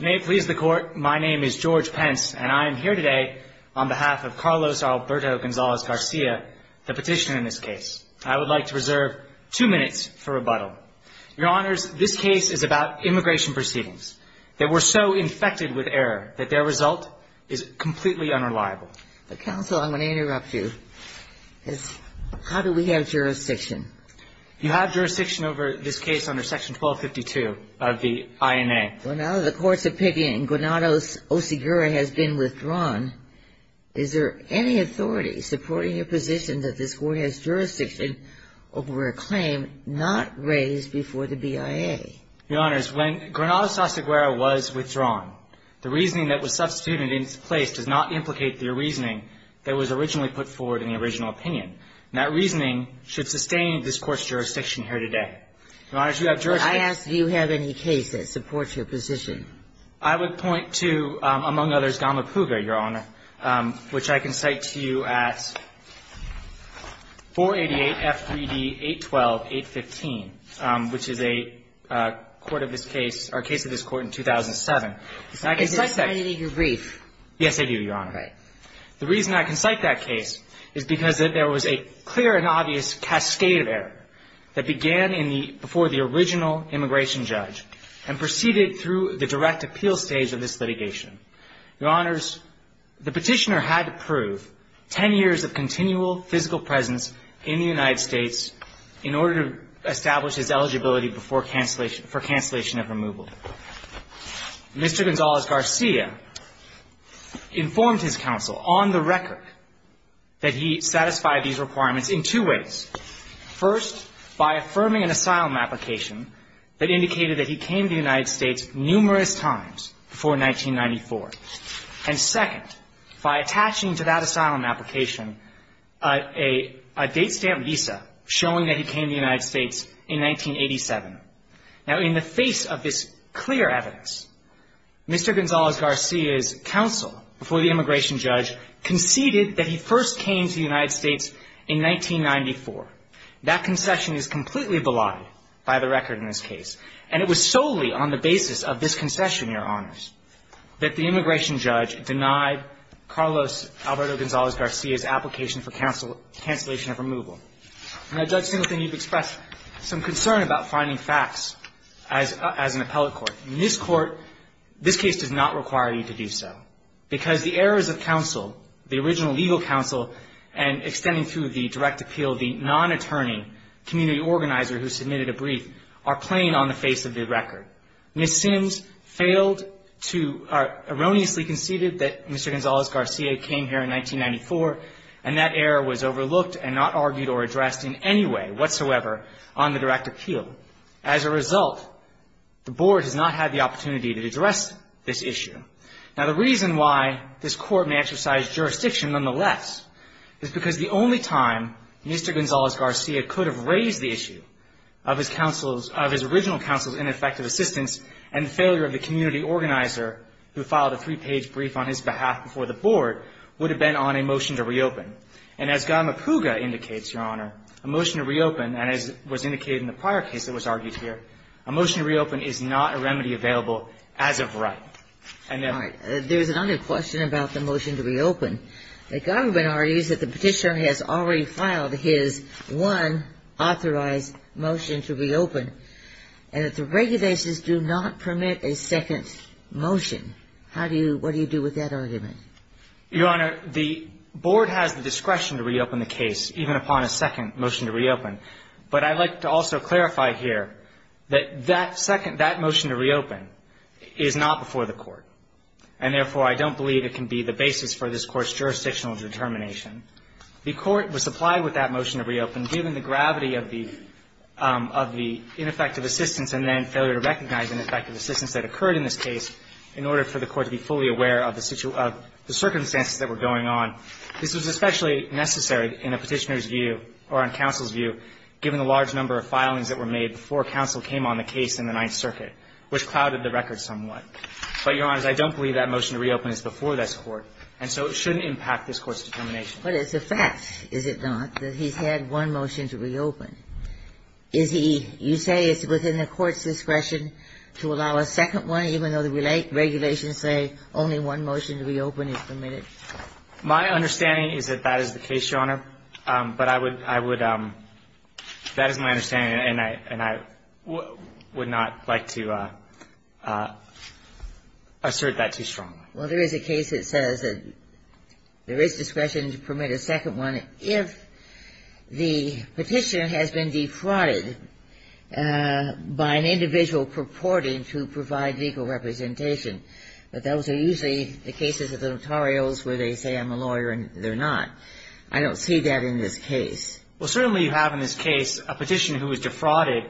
May it please the Court, my name is George Pence, and I am here today on behalf of Carlos Alberto Gonzalez Garcia, the petitioner in this case. I would like to reserve two minutes for rebuttal. Your Honors, this case is about immigration proceedings. They were so infected with error that their result is completely unreliable. Counsel, I'm going to interrupt you. How do we have jurisdiction? You have jurisdiction over this case under Section 1252 of the INA. Well, now that the Court's opinion in Granados-Oseguera has been withdrawn, is there any authority supporting your position that this Court has jurisdiction over a claim not raised before the BIA? Your Honors, when Granados-Oseguera was withdrawn, the reasoning that was substituted in its place does not implicate the reasoning that was originally put forward in the original opinion. That reasoning should sustain this Court's jurisdiction here today. Your Honors, you have jurisdiction. But I ask, do you have any case that supports your position? I would point to, among others, Gama Puga, Your Honor, which I can cite to you at 488-F3D-812-815, which is a court of this case or a case of this court in 2007. And I can cite that. It's not in your brief. Yes, it is, Your Honor. Right. The reason I can cite that case is because there was a clear and obvious cascade of error that began before the original immigration judge and proceeded through the direct appeal stage of this litigation. Your Honors, the petitioner had to prove 10 years of continual physical presence in the United States in order to establish his eligibility for cancellation of removal. Mr. Gonzalez-Garcia informed his counsel on the record that he satisfied these requirements in two ways. First, by affirming an asylum application that indicated that he came to the United States numerous times before 1994. And second, by attaching to that asylum application a date stamp visa showing that he came to the United States in 1987. Now, in the face of this clear evidence, Mr. Gonzalez-Garcia's counsel before the immigration judge conceded that he first came to the United States in 1994. That concession is completely belied by the record in this case. And it was solely on the basis of this concession, Your Honors, that the immigration judge denied Carlos Alberto Gonzalez-Garcia's application for cancellation of removal. Now, Judge Simpson, you've expressed some concern about finding facts as an appellate court. In this court, this case does not require you to do so because the errors of counsel, the original legal counsel, and extending through the direct appeal, the non-attorney community organizer who submitted a brief, are plain on the face of the record. Ms. Sims failed to or erroneously conceded that Mr. Gonzalez-Garcia came here in 1994, and that error was overlooked and not argued or addressed in any way whatsoever on the direct appeal. As a result, the Board has not had the opportunity to address this issue. Now, the reason why this court may exercise jurisdiction, nonetheless, is because the only time Mr. Gonzalez-Garcia could have raised the issue of his counsel's, of his original counsel's ineffective assistance and the failure of the community organizer who filed a three-page brief on his behalf before the Board would have been on a motion to reopen. And as Godma Puga indicates, Your Honor, a motion to reopen, and as was indicated in the prior case that was argued here, a motion to reopen is not a remedy available as of right. And if — All right. There's another question about the motion to reopen. The government argues that the Petitioner has already filed his one authorized motion to reopen, and that the regulations do not permit a second motion. How do you — what do you do with that argument? Your Honor, the Board has the discretion to reopen the case, even upon a second motion to reopen. But I'd like to also clarify here that that second — that motion to reopen is not before the Court. And therefore, I don't believe it can be the basis for this Court's jurisdictional determination. The Court was supplied with that motion to reopen, given the gravity of the ineffective assistance and then failure to recognize ineffective assistance that occurred in this case, in order for the Court to be fully aware of the circumstances that were going on. This was especially necessary in a Petitioner's view, or on counsel's view, given the large number of filings that were made before counsel came on the case in the Ninth Circuit, which clouded the record somewhat. But, Your Honor, I don't believe that motion to reopen is before this Court, and so it shouldn't impact this Court's determination. But it's a fact, is it not, that he's had one motion to reopen. Is he — you say it's within the Court's discretion to allow a second one, even though the regulations say only one motion to reopen is permitted? My understanding is that that is the case, Your Honor. But I would — I would — that is my understanding, and I — and I would not like to assert that too strongly. Well, there is a case that says that there is discretion to permit a second one if the Petitioner has been defrauded by an individual purporting to provide legal representation. But those are usually the cases of the notarials where they say I'm a lawyer and they're not. I don't see that in this case. Well, certainly you have in this case a Petitioner who was defrauded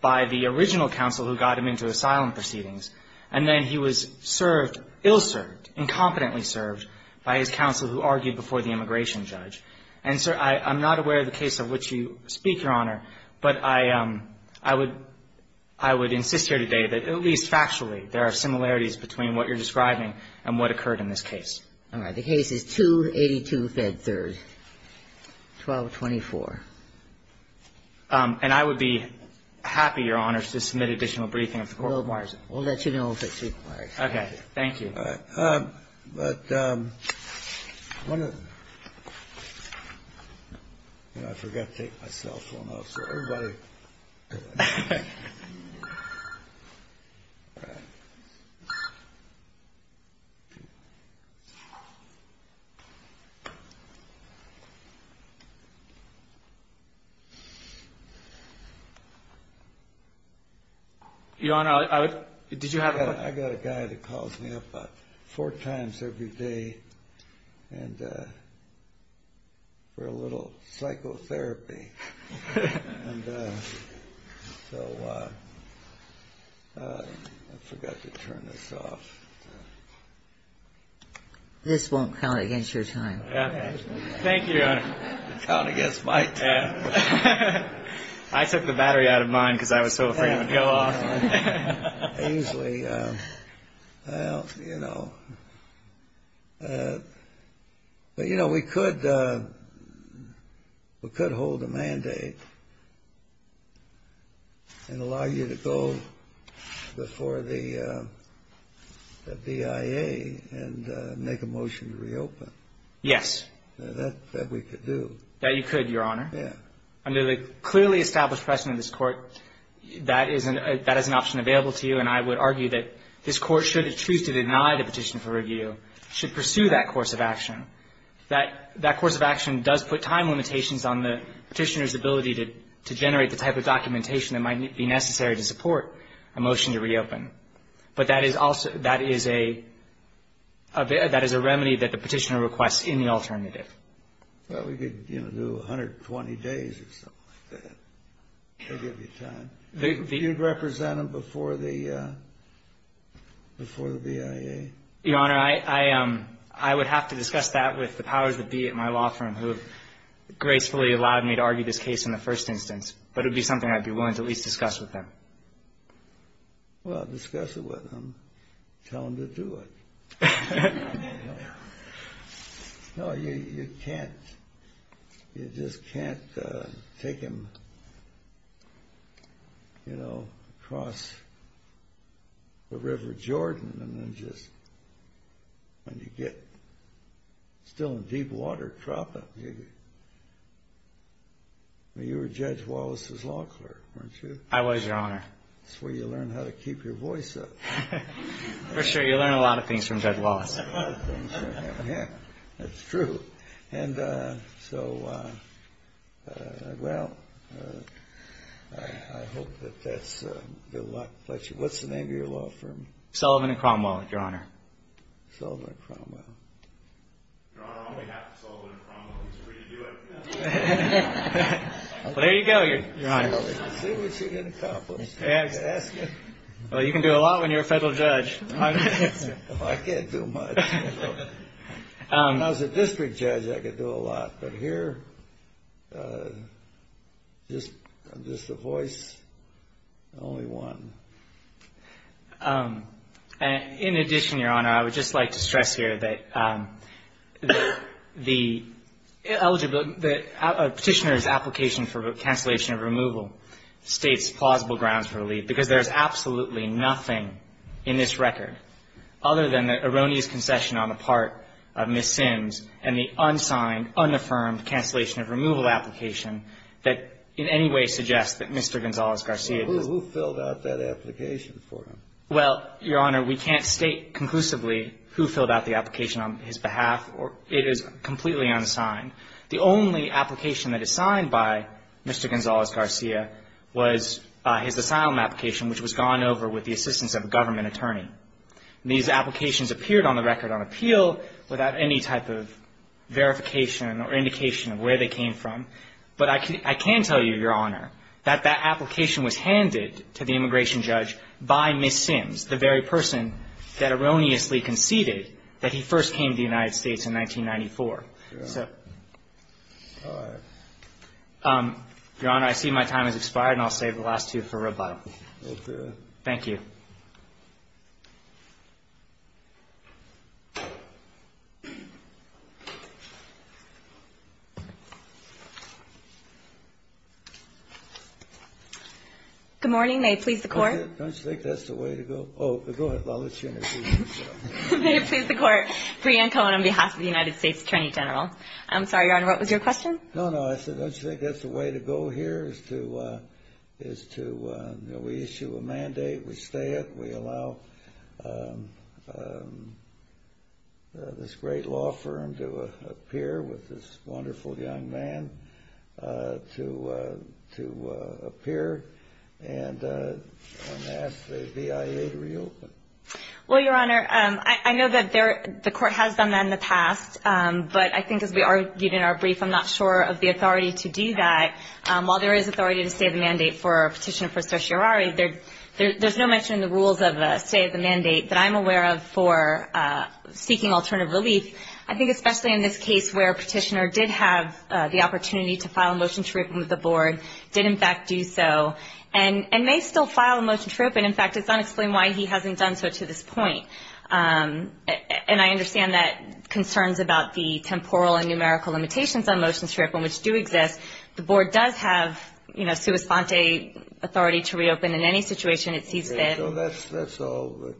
by the original counsel who got him into asylum proceedings, and then he was served — ill-served, incompetently served by his counsel who argued before the immigration judge. And, sir, I'm not aware of the case of which you speak, Your Honor, but I would — I would insist here today that at least factually there are similarities between what you're describing and what occurred in this case. All right. The case is 282 Fed Third, 1224. And I would be happy, Your Honor, to submit additional briefing if the Court requires it. We'll let you know if it's required. Okay. Thank you. All right. But one of the — I forgot to take my cell phone off, so everybody — All right. Your Honor, I would — did you have a — And so I forgot to turn this off. This won't count against your time. Thank you, Your Honor. It'll count against my time. I took the battery out of mine because I was so afraid it would go off. Ainsley, well, you know. But, you know, we could hold a mandate and allow you to go before the BIA and make a motion to reopen. Yes. That we could do. That you could, Your Honor. Yeah. Under the clearly established precedent of this Court, that is an option available to you. And I would argue that this Court, should it choose to deny the petition for review, should pursue that course of action. That course of action does put time limitations on the Petitioner's ability to generate the type of documentation that might be necessary to support a motion to reopen. But that is a remedy that the Petitioner requests in the alternative. Well, we could, you know, do 120 days or something like that. That would give you time. You'd represent them before the BIA? Your Honor, I would have to discuss that with the powers that be at my law firm, who have gracefully allowed me to argue this case in the first instance. But it would be something I'd be willing to at least discuss with them. Well, discuss it with them. Tell them to do it. No, you can't. You just can't take them, you know, across the River Jordan and then just, when you get still in deep water, drop them. I mean, you were Judge Wallace's law clerk, weren't you? I was, Your Honor. That's where you learn how to keep your voice up. For sure, you learn a lot of things from Judge Wallace. That's true. And so, well, I hope that that's good luck. What's the name of your law firm? Sullivan & Cromwell, Your Honor. Sullivan & Cromwell. Your Honor, all we have is Sullivan & Cromwell. It's free to do it. Well, there you go, Your Honor. Let's see what you can accomplish. Well, you can do a lot when you're a federal judge. I can't do much. When I was a district judge, I could do a lot. But here, just the voice, only one. In addition, Your Honor, I would just like to stress here that the petitioner's application for cancellation of removal states plausible grounds for relief, because there's absolutely nothing in this record other than the erroneous concession on the part of Ms. Sims and the unsigned, unaffirmed cancellation of removal application that in any way suggests that Mr. Gonzalez-Garcia did not do it. Well, who filled out that application for him? Well, Your Honor, we can't state conclusively who filled out the application on his behalf. It is completely unsigned. The only application that is signed by Mr. Gonzalez-Garcia was his asylum application, which was gone over with the assistance of a government attorney. These applications appeared on the record on appeal without any type of verification or indication of where they came from. But I can tell you, Your Honor, that that application was handed to the immigration judge by Ms. Sims, the very person that erroneously conceded that he first came to the United States in 1994. All right. Your Honor, I see my time has expired, and I'll save the last two for rebuttal. Go for it. Thank you. Good morning. May it please the Court. Don't you think that's the way to go? Oh, go ahead. I'll let you introduce yourself. May it please the Court. Breanne Cohen on behalf of the United States Attorney General. I'm sorry, Your Honor, what was your question? No, no. I said, don't you think that's the way to go here, is to, you know, we issue a mandate, we stay it, we allow this great law firm to appear with this wonderful young man to appear, and I'm going to ask the BIA to reopen. Well, Your Honor, I know that the Court has done that in the past, but I think as we argued in our brief, I'm not sure of the authority to do that. While there is authority to stay the mandate for a petitioner for certiorari, there's no mention in the rules of a stay of the mandate that I'm aware of for seeking alternative relief. I think especially in this case where a petitioner did have the opportunity to file a motion to reopen with the Board, did in fact do so, and may still file a motion to reopen. In fact, it's unexplained why he hasn't done so to this point. And I understand that concerns about the temporal and numerical limitations on motions to reopen, which do exist, the Board does have, you know, sua sponte authority to reopen in any situation it sees fit. Okay. So that's all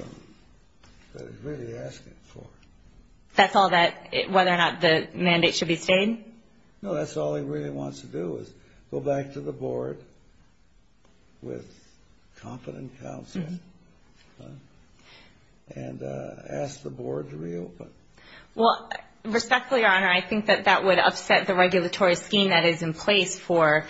that he's really asking for. That's all that, whether or not the mandate should be stayed? No, that's all he really wants to do is go back to the Board with competent counsel and ask the Board to reopen. Well, respectfully, Your Honor, I think that that would upset the regulatory scheme that is in place for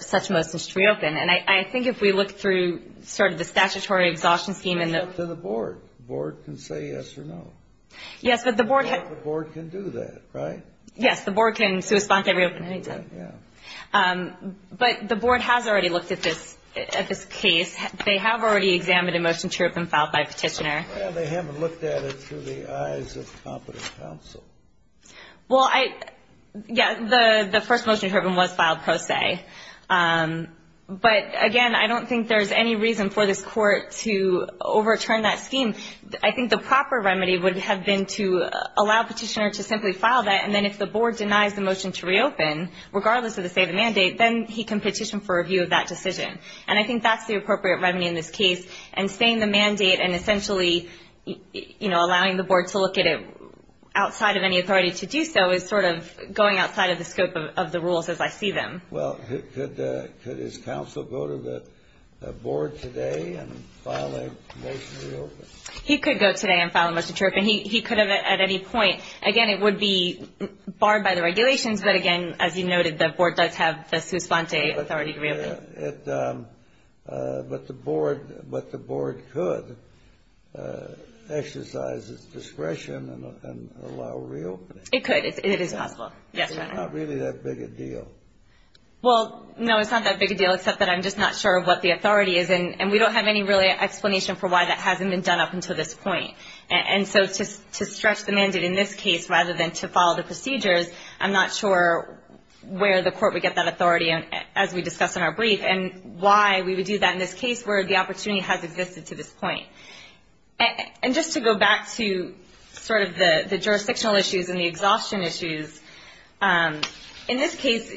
such motions to reopen. And I think if we look through sort of the statutory exhaustion scheme and the – Go to the Board. The Board can say yes or no. Yes, but the Board – The Board can do that, right? Yes, the Board can sua sponte reopen anytime. Right, yeah. But the Board has already looked at this case. They have already examined a motion to reopen filed by Petitioner. Well, they haven't looked at it through the eyes of competent counsel. Well, I – yeah, the first motion to reopen was filed pro se. But, again, I don't think there's any reason for this Court to overturn that scheme. I mean, I think the proper remedy would have been to allow Petitioner to simply file that, and then if the Board denies the motion to reopen, regardless of the state of the mandate, then he can petition for review of that decision. And I think that's the appropriate remedy in this case. And staying the mandate and essentially, you know, allowing the Board to look at it outside of any authority to do so is sort of going outside of the scope of the rules as I see them. Well, could his counsel go to the Board today and file a motion to reopen? He could go today and file a motion to reopen. He could have at any point. Again, it would be barred by the regulations. But, again, as you noted, the Board does have the sua sponte authority to reopen. But the Board could exercise its discretion and allow reopening. It could. It is possible. Yes, Your Honor. It's not really that big a deal. Well, no, it's not that big a deal, except that I'm just not sure what the authority is. And we don't have any really explanation for why that hasn't been done up until this point. And so to stretch the mandate in this case rather than to follow the procedures, I'm not sure where the court would get that authority, as we discussed in our brief, and why we would do that in this case where the opportunity has existed to this point. And just to go back to sort of the jurisdictional issues and the exhaustion issues, in this case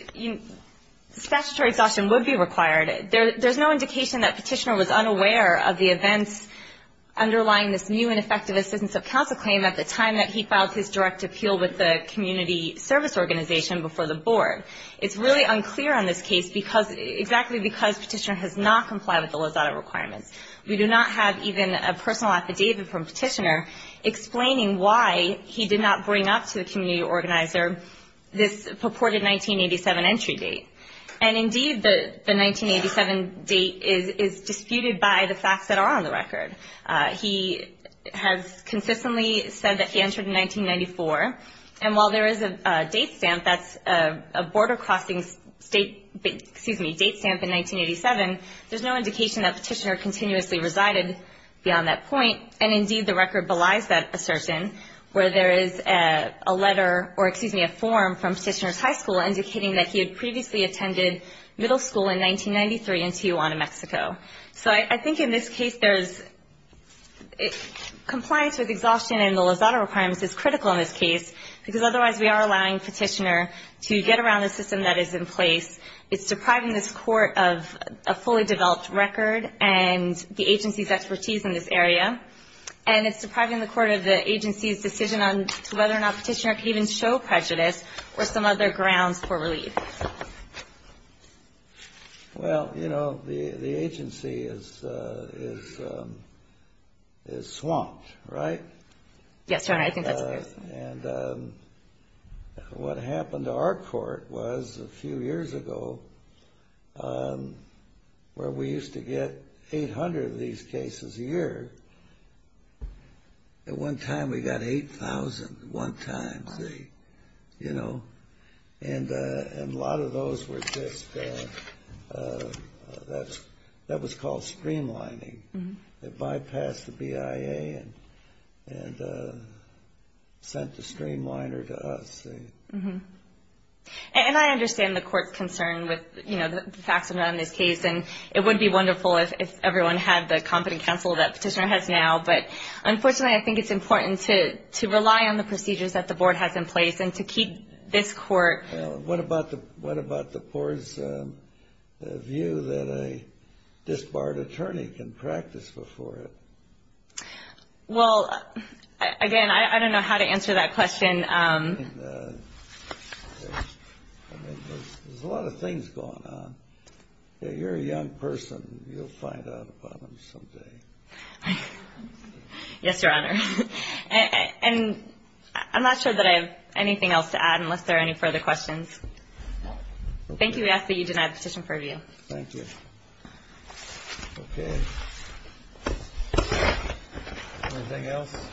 statutory exhaustion would be required. There's no indication that Petitioner was unaware of the events underlying this new and effective assistance of counsel claim at the time that he filed his direct appeal with the community service organization before the Board. It's really unclear on this case, exactly because Petitioner has not complied with the Lozada requirements. We do not have even a personal affidavit from Petitioner explaining why he did not bring up to the community organizer this purported 1987 entry date. And, indeed, the 1987 date is disputed by the facts that are on the record. He has consistently said that he entered in 1994. And while there is a date stamp that's a border crossing date stamp in 1987, there's no indication that Petitioner continuously resided beyond that point. And, indeed, the record belies that assertion where there is a letter or, excuse me, a form from Petitioner's high school indicating that he had previously attended middle school in 1993 in Tijuana, Mexico. So I think in this case there's compliance with exhaustion and the Lozada requirements is critical in this case because otherwise we are allowing Petitioner to get around a system that is in place. It's depriving this Court of a fully developed record and the agency's expertise in this area. And it's depriving the Court of the agency's decision on whether or not Petitioner can even show prejudice or some other grounds for relief. Well, you know, the agency is swamped, right? Yes, Your Honor. I think that's fair. And what happened to our Court was a few years ago where we used to get 800 of these cases a year. At one time we got 8,000 at one time, see? You know? And a lot of those were just that was called streamlining. It bypassed the BIA and sent the streamliner to us, see? And I understand the Court's concern with, you know, the facts around this case, and it would be wonderful if everyone had the competent counsel that Petitioner has now, but unfortunately I think it's important to rely on the procedures that the Board has in place and to keep this Court. What about the Board's view that a disbarred attorney can practice before it? Well, again, I don't know how to answer that question. There's a lot of things going on. You're a young person. You'll find out about them someday. Yes, Your Honor. And I'm not sure that I have anything else to add unless there are any further questions. Thank you. We ask that you deny the petition for review. Thank you. Okay. Anything else?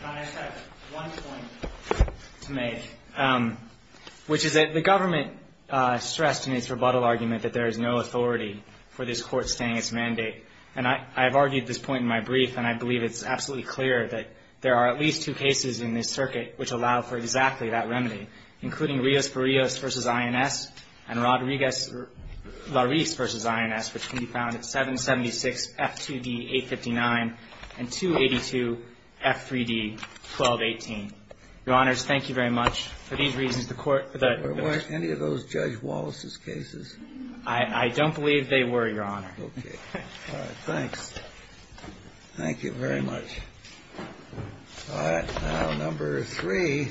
Your Honor, I just have one point to make, which is that the government stressed in its rebuttal argument that there is no authority for this Court staying its mandate. And I have argued this point in my brief, and I believe it's absolutely clear that there are at least two cases in this circuit which allow for exactly that remedy, including Rios-Parrillos v. INS and Rodriguez-Larisse v. INS, which can be found at 776-F2D-859 and 282-F3D-1218. Your Honors, thank you very much. For these reasons, the Court --" Were any of those Judge Wallace's cases? I don't believe they were, Your Honor. All right. Thanks. Thank you very much. All right. Now, number three.